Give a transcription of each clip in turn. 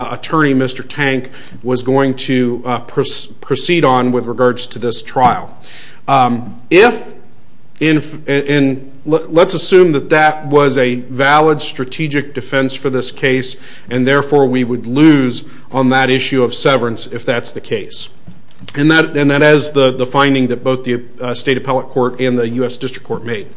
attorney, Mr. Tank, was going to proceed on with regards to this trial. If, and let's assume that that was a valid strategic defense for this case, and therefore we would lose on that issue of severance if that's the case. And that has the finding that both the State Appellate Court and the U.S. District Court made.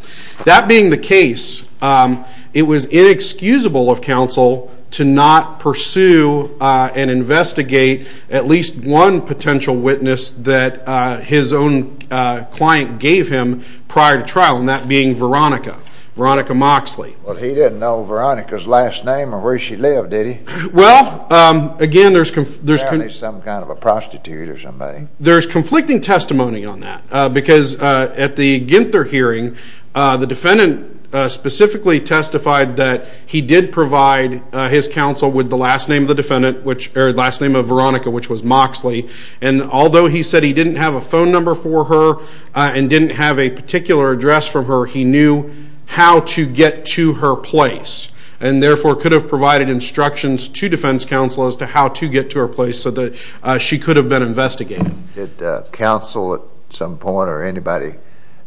That being the case, it was inexcusable of counsel to not pursue and investigate at least one potential witness that his own client gave him prior to trial, and that being Veronica, Veronica Moxley. Well, he didn't know Veronica's last name or where she lived, did he? Well, again there's some kind of a prostitute or somebody. There's conflicting testimony on that because at the the defendant specifically testified that he did provide his counsel with the last name of the defendant, which, or last name of Veronica, which was Moxley. And although he said he didn't have a phone number for her and didn't have a particular address from her, he knew how to get to her place and therefore could have provided instructions to defense counsel as to how to get to her place so she could have been investigated. Did counsel at some point or anybody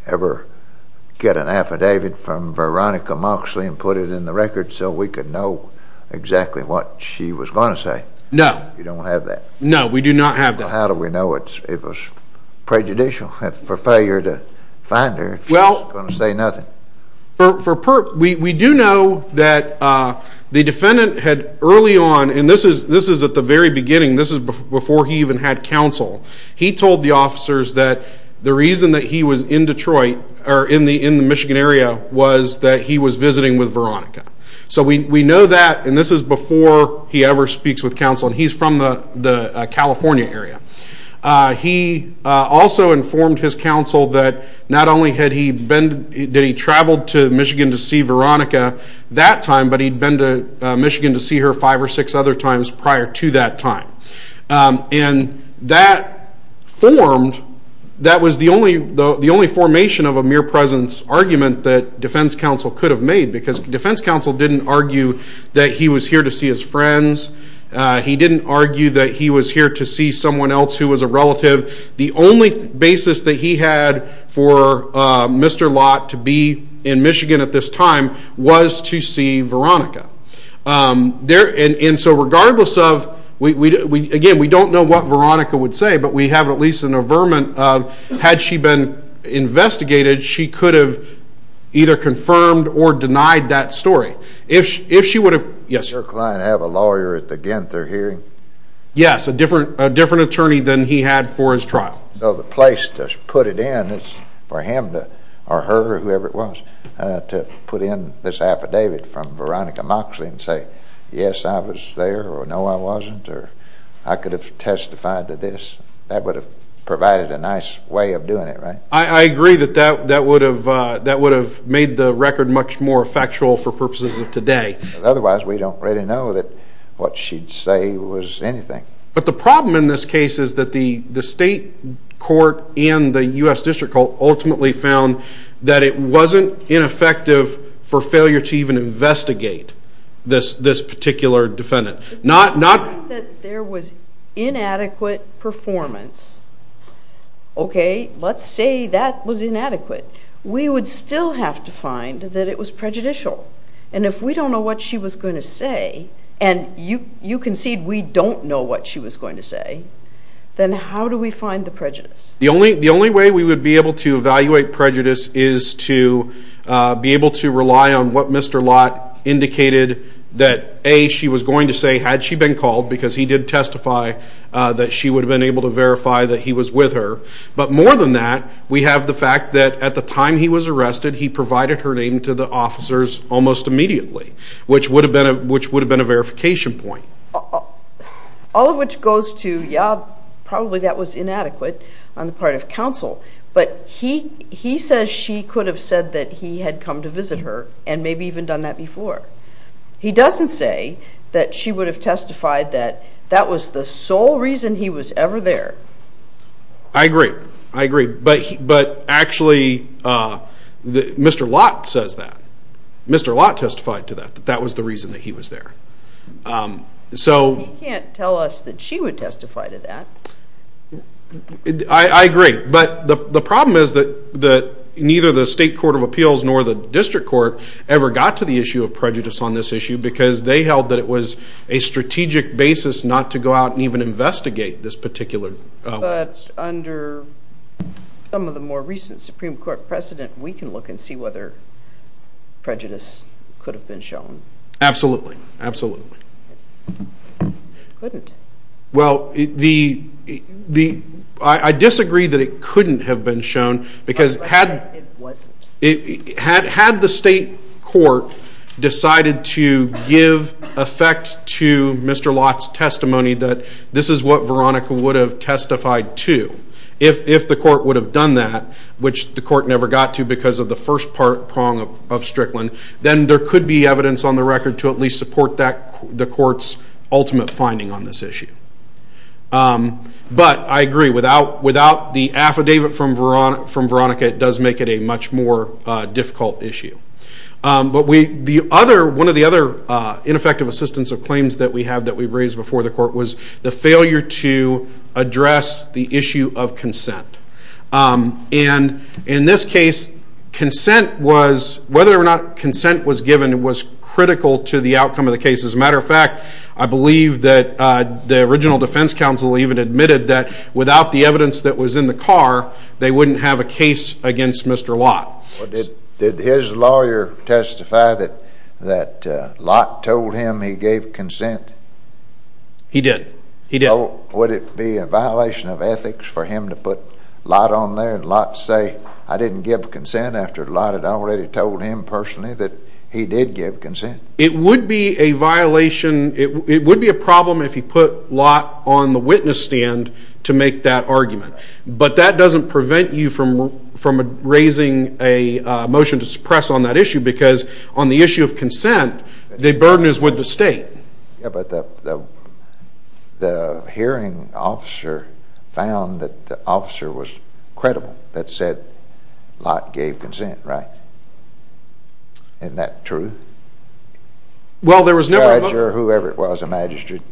ever get an affidavit from Veronica Moxley and put it in the record so we could know exactly what she was going to say? No. You don't have that? No, we do not have that. How do we know it was prejudicial for failure to find her if she's going to say nothing? We do know that the defendant had early on, and this is at the very beginning, this is before he even had counsel, he told the officers that the reason that he was in Detroit, or in the Michigan area, was that he was visiting with Veronica. So we know that, and this is before he ever speaks with counsel, and he's from the California area. He also informed his counsel that not only had he been, that he traveled to Michigan to see Veronica that time, but he'd been to Michigan to see her five or six other times prior to that time. And that formed, that was the only formation of a mere presence argument that defense counsel could have made because defense counsel didn't argue that he was here to see his friends. He didn't argue that he was here to see someone else who was a relative. The only basis that he had for Mr. Lott to be in Michigan at this time was to see Veronica. And so regardless of, again, we don't know what Veronica would say, but we have at least an averment of, had she been investigated, she could have either confirmed or denied that story. If she would have, yes? Did your client have a lawyer at the Genther hearing? Yes, a different attorney than he had for his trial. So the place to put it in is for him or her, whoever it was, to put in this affidavit from Veronica Moxley and say, yes, I was there, or no, I wasn't, or I could have testified to this. That would have provided a nice way of doing it, right? I agree that that would have made the record much more factual for purposes of today. Otherwise, we don't really know that what she'd say was anything. But the problem in this case is that the state court and the U.S. district court ultimately found that it wasn't ineffective for failure to even investigate this particular defendant. If we find that there was inadequate performance, okay, let's say that was inadequate. We would still have to find that it was prejudicial. And if we don't know what she was going to say, then how do we find the prejudice? The only way we would be able to evaluate prejudice is to be able to rely on what Mr. Lott indicated that, A, she was going to say had she been called, because he did testify that she would have been able to verify that he was with her. But more than that, we have the fact that at the time he was arrested, he provided her name to the officers almost immediately, which would have been a verification point. All of which goes to, yeah, probably that was inadequate on the part of counsel. But he says she could have said that he had come to visit her and maybe even done that before. He doesn't say that she would have testified that that was the sole reason he was ever there. I agree. I agree. But actually, Mr. Lott says that. Mr. Lott testified to that, that that was the reason that he was there. He can't tell us that she would testify to that. I agree. But the problem is that neither the State Court of Appeals nor the District Court ever got to the issue of prejudice on this issue, because they held that it was a strategic basis not to go out and even investigate this particular. But under some of the more recent Supreme Court precedent, we can look and see whether prejudice could have been shown. Absolutely. Absolutely. Couldn't. Well, I disagree that it couldn't have been shown, because had the State Court decided to give effect to Mr. Lott's testimony that this is what Veronica would have testified to, if the court would have done that, which the court never got to because of the first prong of Strickland, then there could be evidence on the record to at least support the court's ultimate finding on this issue. But I agree, without the affidavit from Veronica, it does make it a much more difficult issue. But one of the other ineffective assistance of claims that we have that we've raised before the court was the failure to address the issue of consent. And in this case, consent was whether or not consent was given was critical to the outcome of the case. As a matter of fact, I believe that the original defense counsel even admitted that without the evidence that was in the car, they wouldn't have a case against Mr. Lott. Did his lawyer testify that Lott told him he gave consent? He did. He did. Would it be a violation of ethics for him to put Lott on there and Lott say, I didn't give consent after Lott had already told him personally that he did give consent? It would be a violation, it would be a problem if he put Lott on the witness stand to make that argument. But that doesn't prevent you from raising a motion to suppress on that issue because on the issue of consent, the burden is with the state. Yeah, but the hearing officer found that the officer was credible that said Lott gave consent, right? Isn't that true? Well, there was never... Judge or whoever it was, a magistrate.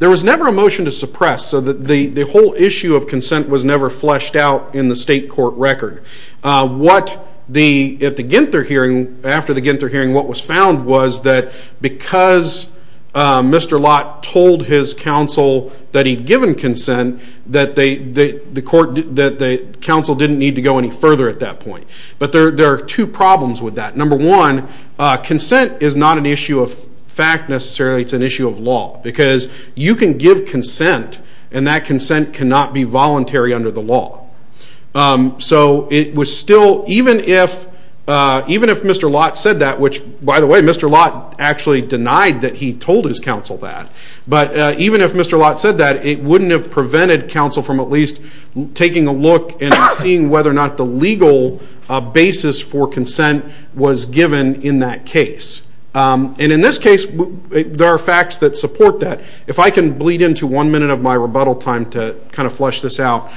There was never a motion to suppress. So the whole issue of consent was never fleshed out in the state court record. What at the Ginther hearing, after the Ginther hearing, what was Mr. Lott told his counsel that he'd given consent, that the counsel didn't need to go any further at that point. But there are two problems with that. Number one, consent is not an issue of fact necessarily, it's an issue of law because you can give consent and that consent cannot be voluntary under the law. So it was still, even if Mr. Lott said that, which by the way, Mr. Lott actually denied that he told his counsel that. But even if Mr. Lott said that, it wouldn't have prevented counsel from at least taking a look and seeing whether or not the legal basis for consent was given in that case. And in this case, there are facts that support that. If I can bleed into one minute of my rebuttal time to kind of flesh this out,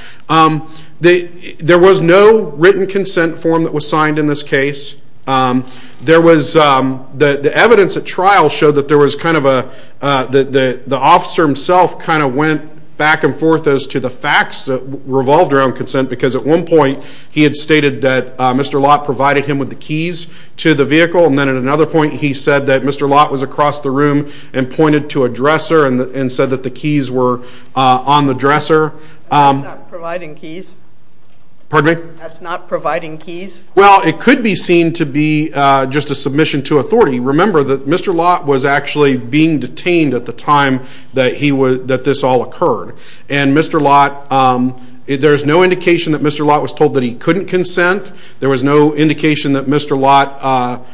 there was no written consent form that was signed in this case. There was, the evidence at trial showed that there was kind of a, that the officer himself kind of went back and forth as to the facts that revolved around consent because at one point, he had stated that Mr. Lott provided him with the keys to the vehicle. And then at another point, he said that Mr. Lott was across the room and pointed to a dresser and said that the keys were on the dresser. That's not providing keys? Well, it could be seen to be just a submission to authority. Remember that Mr. Lott was actually being detained at the time that this all occurred. And Mr. Lott, there's no indication that Mr. Lott was told that he couldn't consent. There was no indication that Mr. Lott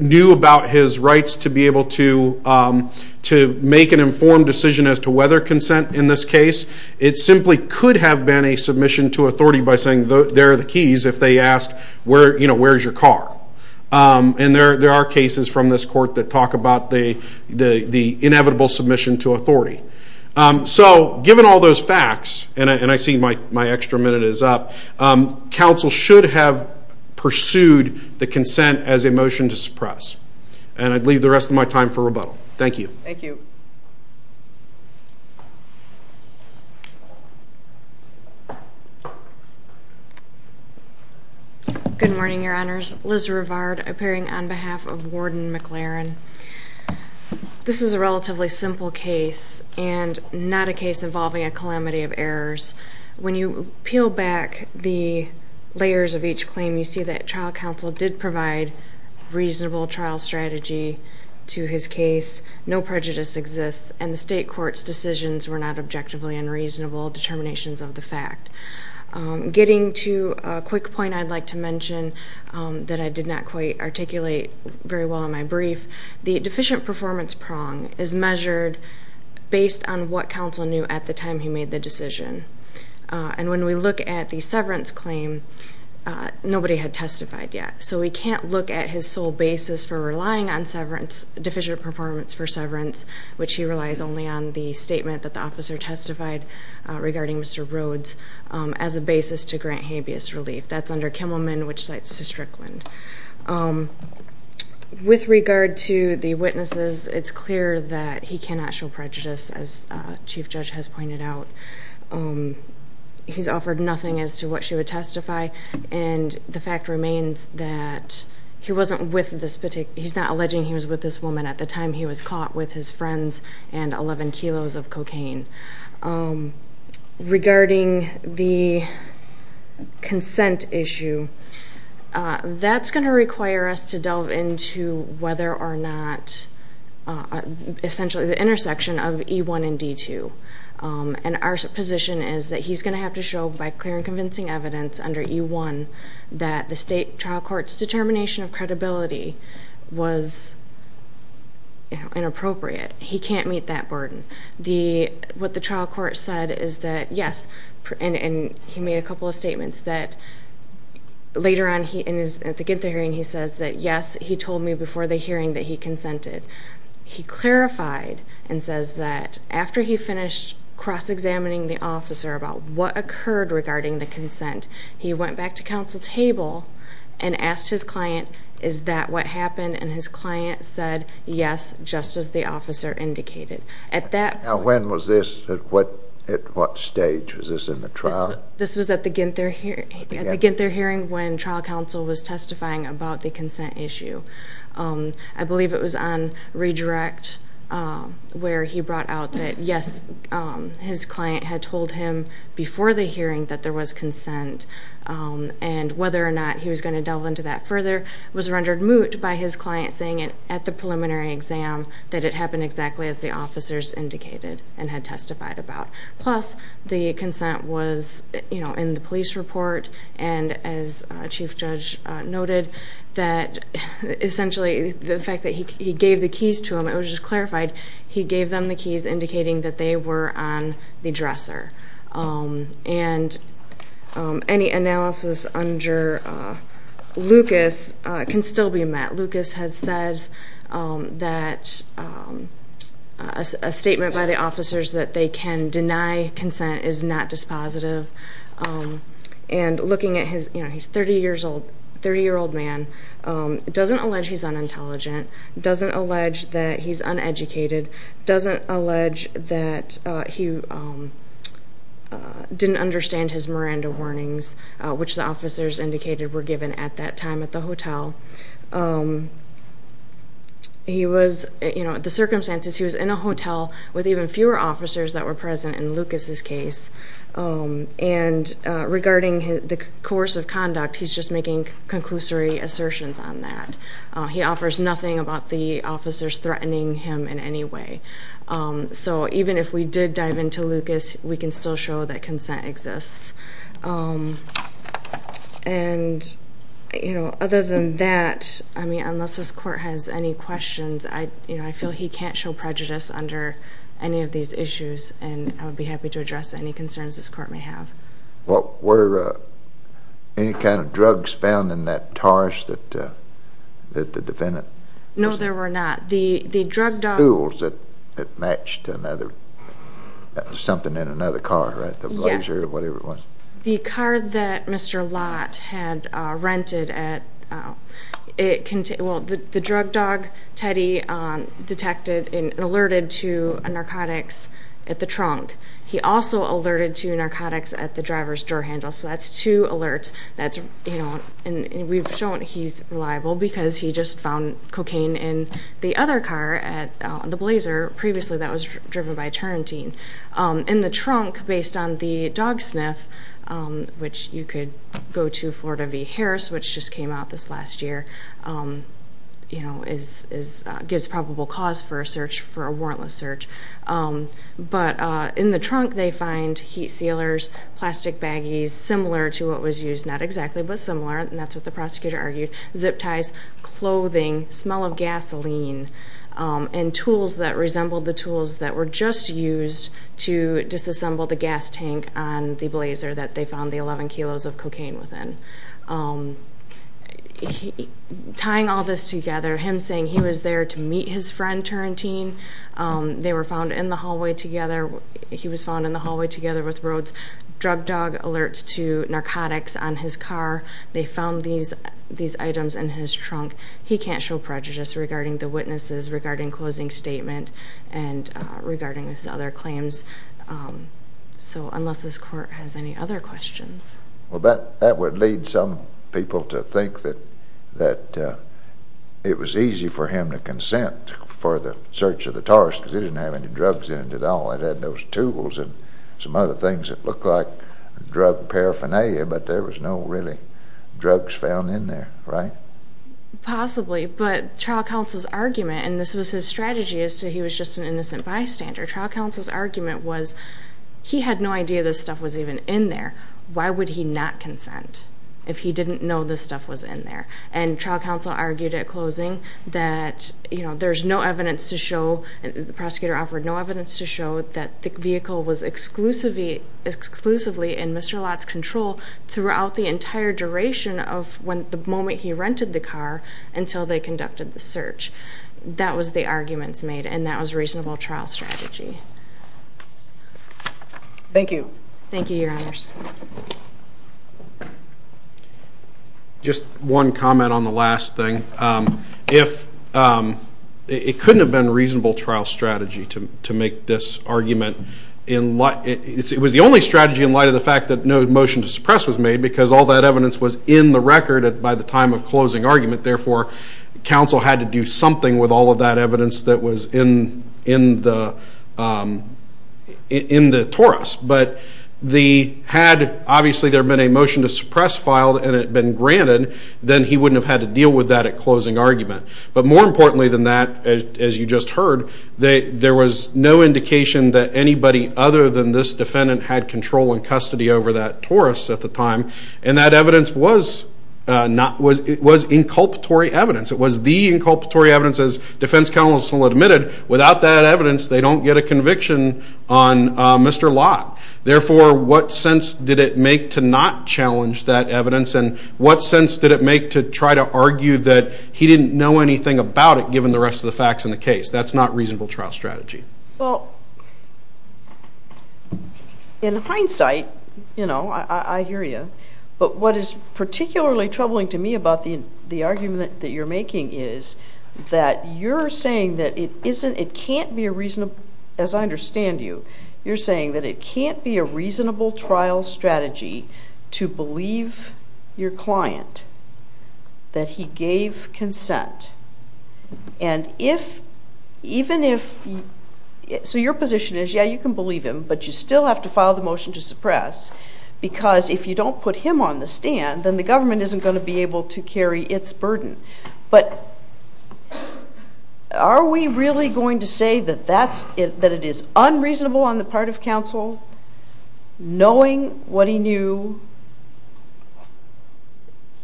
knew about his rights to be able to make an informed decision as to whether consent in this case. It simply could have been a submission to authority by saying, there are the keys if they asked, where's your car? And there are cases from this court that talk about the inevitable submission to authority. So given all those facts, and I see my extra minute is up, counsel should have pursued the consent as a motion to suppress. And I'd leave the rest of my time for rebuttal. Thank you. Good morning, your honors. Liz Rivard appearing on behalf of Warden McLaren. This is a relatively simple case and not a case involving a calamity of errors. When you peel back the layers of each claim, you see that trial counsel did provide reasonable trial strategy to his case. No prejudice exists. And the state court's decisions were not objectively unreasonable determinations of the fact. Getting to a quick point I'd like to mention that I did not quite articulate very well in my brief. The deficient performance prong is measured based on what counsel knew at the time he made the decision. And when we look at the severance claim, nobody had testified yet. So we can't look at his sole basis for relying on deficient performance for severance, which he relies only on the statement that the officer testified regarding Mr. Rhodes as a basis to grant habeas relief. That's under Kimmelman, which cites Strickland. With regard to the witnesses, it's clear that he cannot show what she would testify. And the fact remains that he wasn't with this particular, he's not alleging he was with this woman at the time he was caught with his friends and 11 kilos of cocaine. Regarding the consent issue, that's going to require us to delve into whether or not essentially the intersection of E1 and D2. And our position is that he's going to have to show by clear and convincing evidence under E1 that the state trial court's determination of credibility was inappropriate. He can't meet that burden. What the trial court said is that yes, and he made a couple of statements that later on at the Ginta hearing, he says that yes, he told me before the hearing that he consented. He clarified and says that after he finished cross-examining the officer about what occurred regarding the consent, he went back to counsel table and asked his client, is that what happened? And his client said, yes, just as the officer indicated. Now when was this? At what stage was this in the trial? This was at the Ginta hearing when trial counsel was testifying about the consent issue. I believe it was on redirect where he brought out that yes, his client had told him before the hearing that there was consent and whether or not he was going to delve into that further was rendered moot by his client saying it at the preliminary exam that it happened exactly as the officers indicated and had testified about. Plus the consent was in the police report and as chief judge noted that essentially the fact that he gave the keys to him, it was just clarified, he gave them the keys indicating that they were on the dresser. And any analysis under Lucas can still be met. Lucas has said that a statement by the officers that they can deny consent is not dispositive. And looking at his, you know, he's 30 years old, 30 year old man, doesn't allege he's unintelligent, doesn't allege that he's uneducated, doesn't allege that he didn't understand his Miranda warnings, which the officers indicated were given at that time at the hotel. He was, you know, the circumstances, he was in a hotel with even fewer officers that were present in Lucas's case. And regarding the course of conduct, he's just making conclusory assertions on that. He offers nothing about the officers threatening him in any way. So even if we did dive into Lucas, we can still show that consent exists. And, you know, other than that, I mean, unless this court has any questions, I, you know, he can't show prejudice under any of these issues. And I would be happy to address any concerns this court may have. What were any kind of drugs found in that Taurus that the defendant? No, there were not. The drug dog. Tools that matched another, that was something in another car, right? The Blazer or whatever it was. The car that Mr. Lott had rented at, well, the drug dog, Teddy, detected and alerted to narcotics at the trunk. He also alerted to narcotics at the driver's door handle. So that's two alerts. That's, you know, and we've shown he's reliable because he just found cocaine in the other car at the Blazer previously that was driven by Turrentine. In the trunk, based on the which you could go to Florida v. Harris, which just came out this last year, you know, is, gives probable cause for a search for a warrantless search. But in the trunk, they find heat sealers, plastic baggies, similar to what was used, not exactly, but similar. And that's what the prosecutor argued. Zip ties, clothing, smell of gasoline, and tools that resembled the tools that were just used to disassemble the gas that they found the 11 kilos of cocaine within. Tying all this together, him saying he was there to meet his friend Turrentine. They were found in the hallway together. He was found in the hallway together with Rhodes. Drug dog alerts to narcotics on his car. They found these items in his trunk. He can't show prejudice regarding the witnesses, regarding closing statement, and regarding his other claims. So, unless this court has any other questions. Well, that would lead some people to think that it was easy for him to consent for the search of the Taurus because it didn't have any drugs in it at all. It had those tools and some other things that looked like drug paraphernalia, but there was no really drugs found in there, right? Possibly, but trial counsel's argument, and this was his strategy as to he was just an innocent bystander. Trial counsel's argument was he had no idea this stuff was even in there. Why would he not consent if he didn't know this stuff was in there? And trial counsel argued at closing that there's no evidence to show, the prosecutor offered no evidence to show that the vehicle was exclusively in Mr. Lott's control throughout the entire duration of the moment he rented the car until they conducted the search. That was the arguments made, and that was a reasonable trial strategy. Thank you. Thank you, your honors. Just one comment on the last thing. It couldn't have been a reasonable trial strategy to make this argument. It was the only strategy in light of the fact that no motion to suppress was made because all that evidence was in the record by the time of closing argument. Therefore, counsel had to do something with all of that evidence that was in the torus. But had, obviously, there been a motion to suppress filed and it had been granted, then he wouldn't have had to deal with that at closing argument. But more importantly than that, as you just heard, there was no indication that anybody other than this defendant had control and it was the inculpatory evidence as defense counsel admitted. Without that evidence, they don't get a conviction on Mr. Lott. Therefore, what sense did it make to not challenge that evidence? And what sense did it make to try to argue that he didn't know anything about it given the rest of the facts in the case? That's not reasonable trial strategy. Well, in hindsight, I hear you. But what is particularly troubling to me about the argument that you're making is that you're saying that it can't be a reasonable, as I understand you, you're saying that it can't be a reasonable trial strategy to believe your client that he gave consent. So your position is, yeah, you can believe him, but you still have to file the motion to suppress because if you don't put him on the stand, then the government isn't going to be But are we really going to say that it is unreasonable on the part of counsel knowing what he knew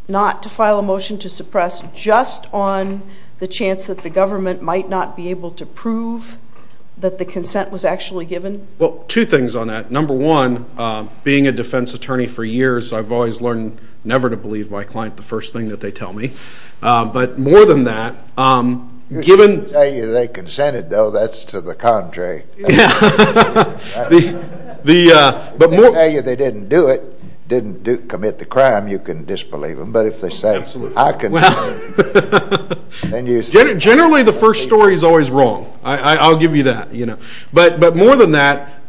not to file a motion to suppress just on the chance that the government might not be able to prove that the consent was actually given? Well, two things on that. Number one, being a defense attorney for years, I've always learned never to believe my client the But more than that, um, given they consented, though, that's to the contrary. Yeah. The but more they didn't do it, didn't do commit the crime, you can disbelieve them. But if they say absolutely, I can. And you said generally, the first story is always wrong. I'll give you that, you know, but but more than that,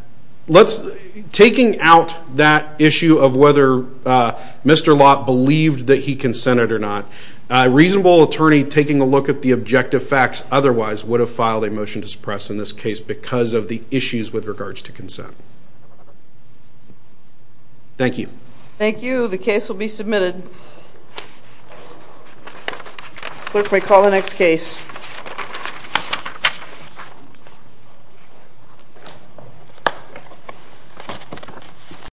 let's taking out that issue of whether Mr. Lott believed that he consented or not. A reasonable attorney taking a look at the objective facts otherwise would have filed a motion to suppress in this case because of the issues with regards to consent. Thank you. Thank you. The case will be submitted. Clerk may call the next case.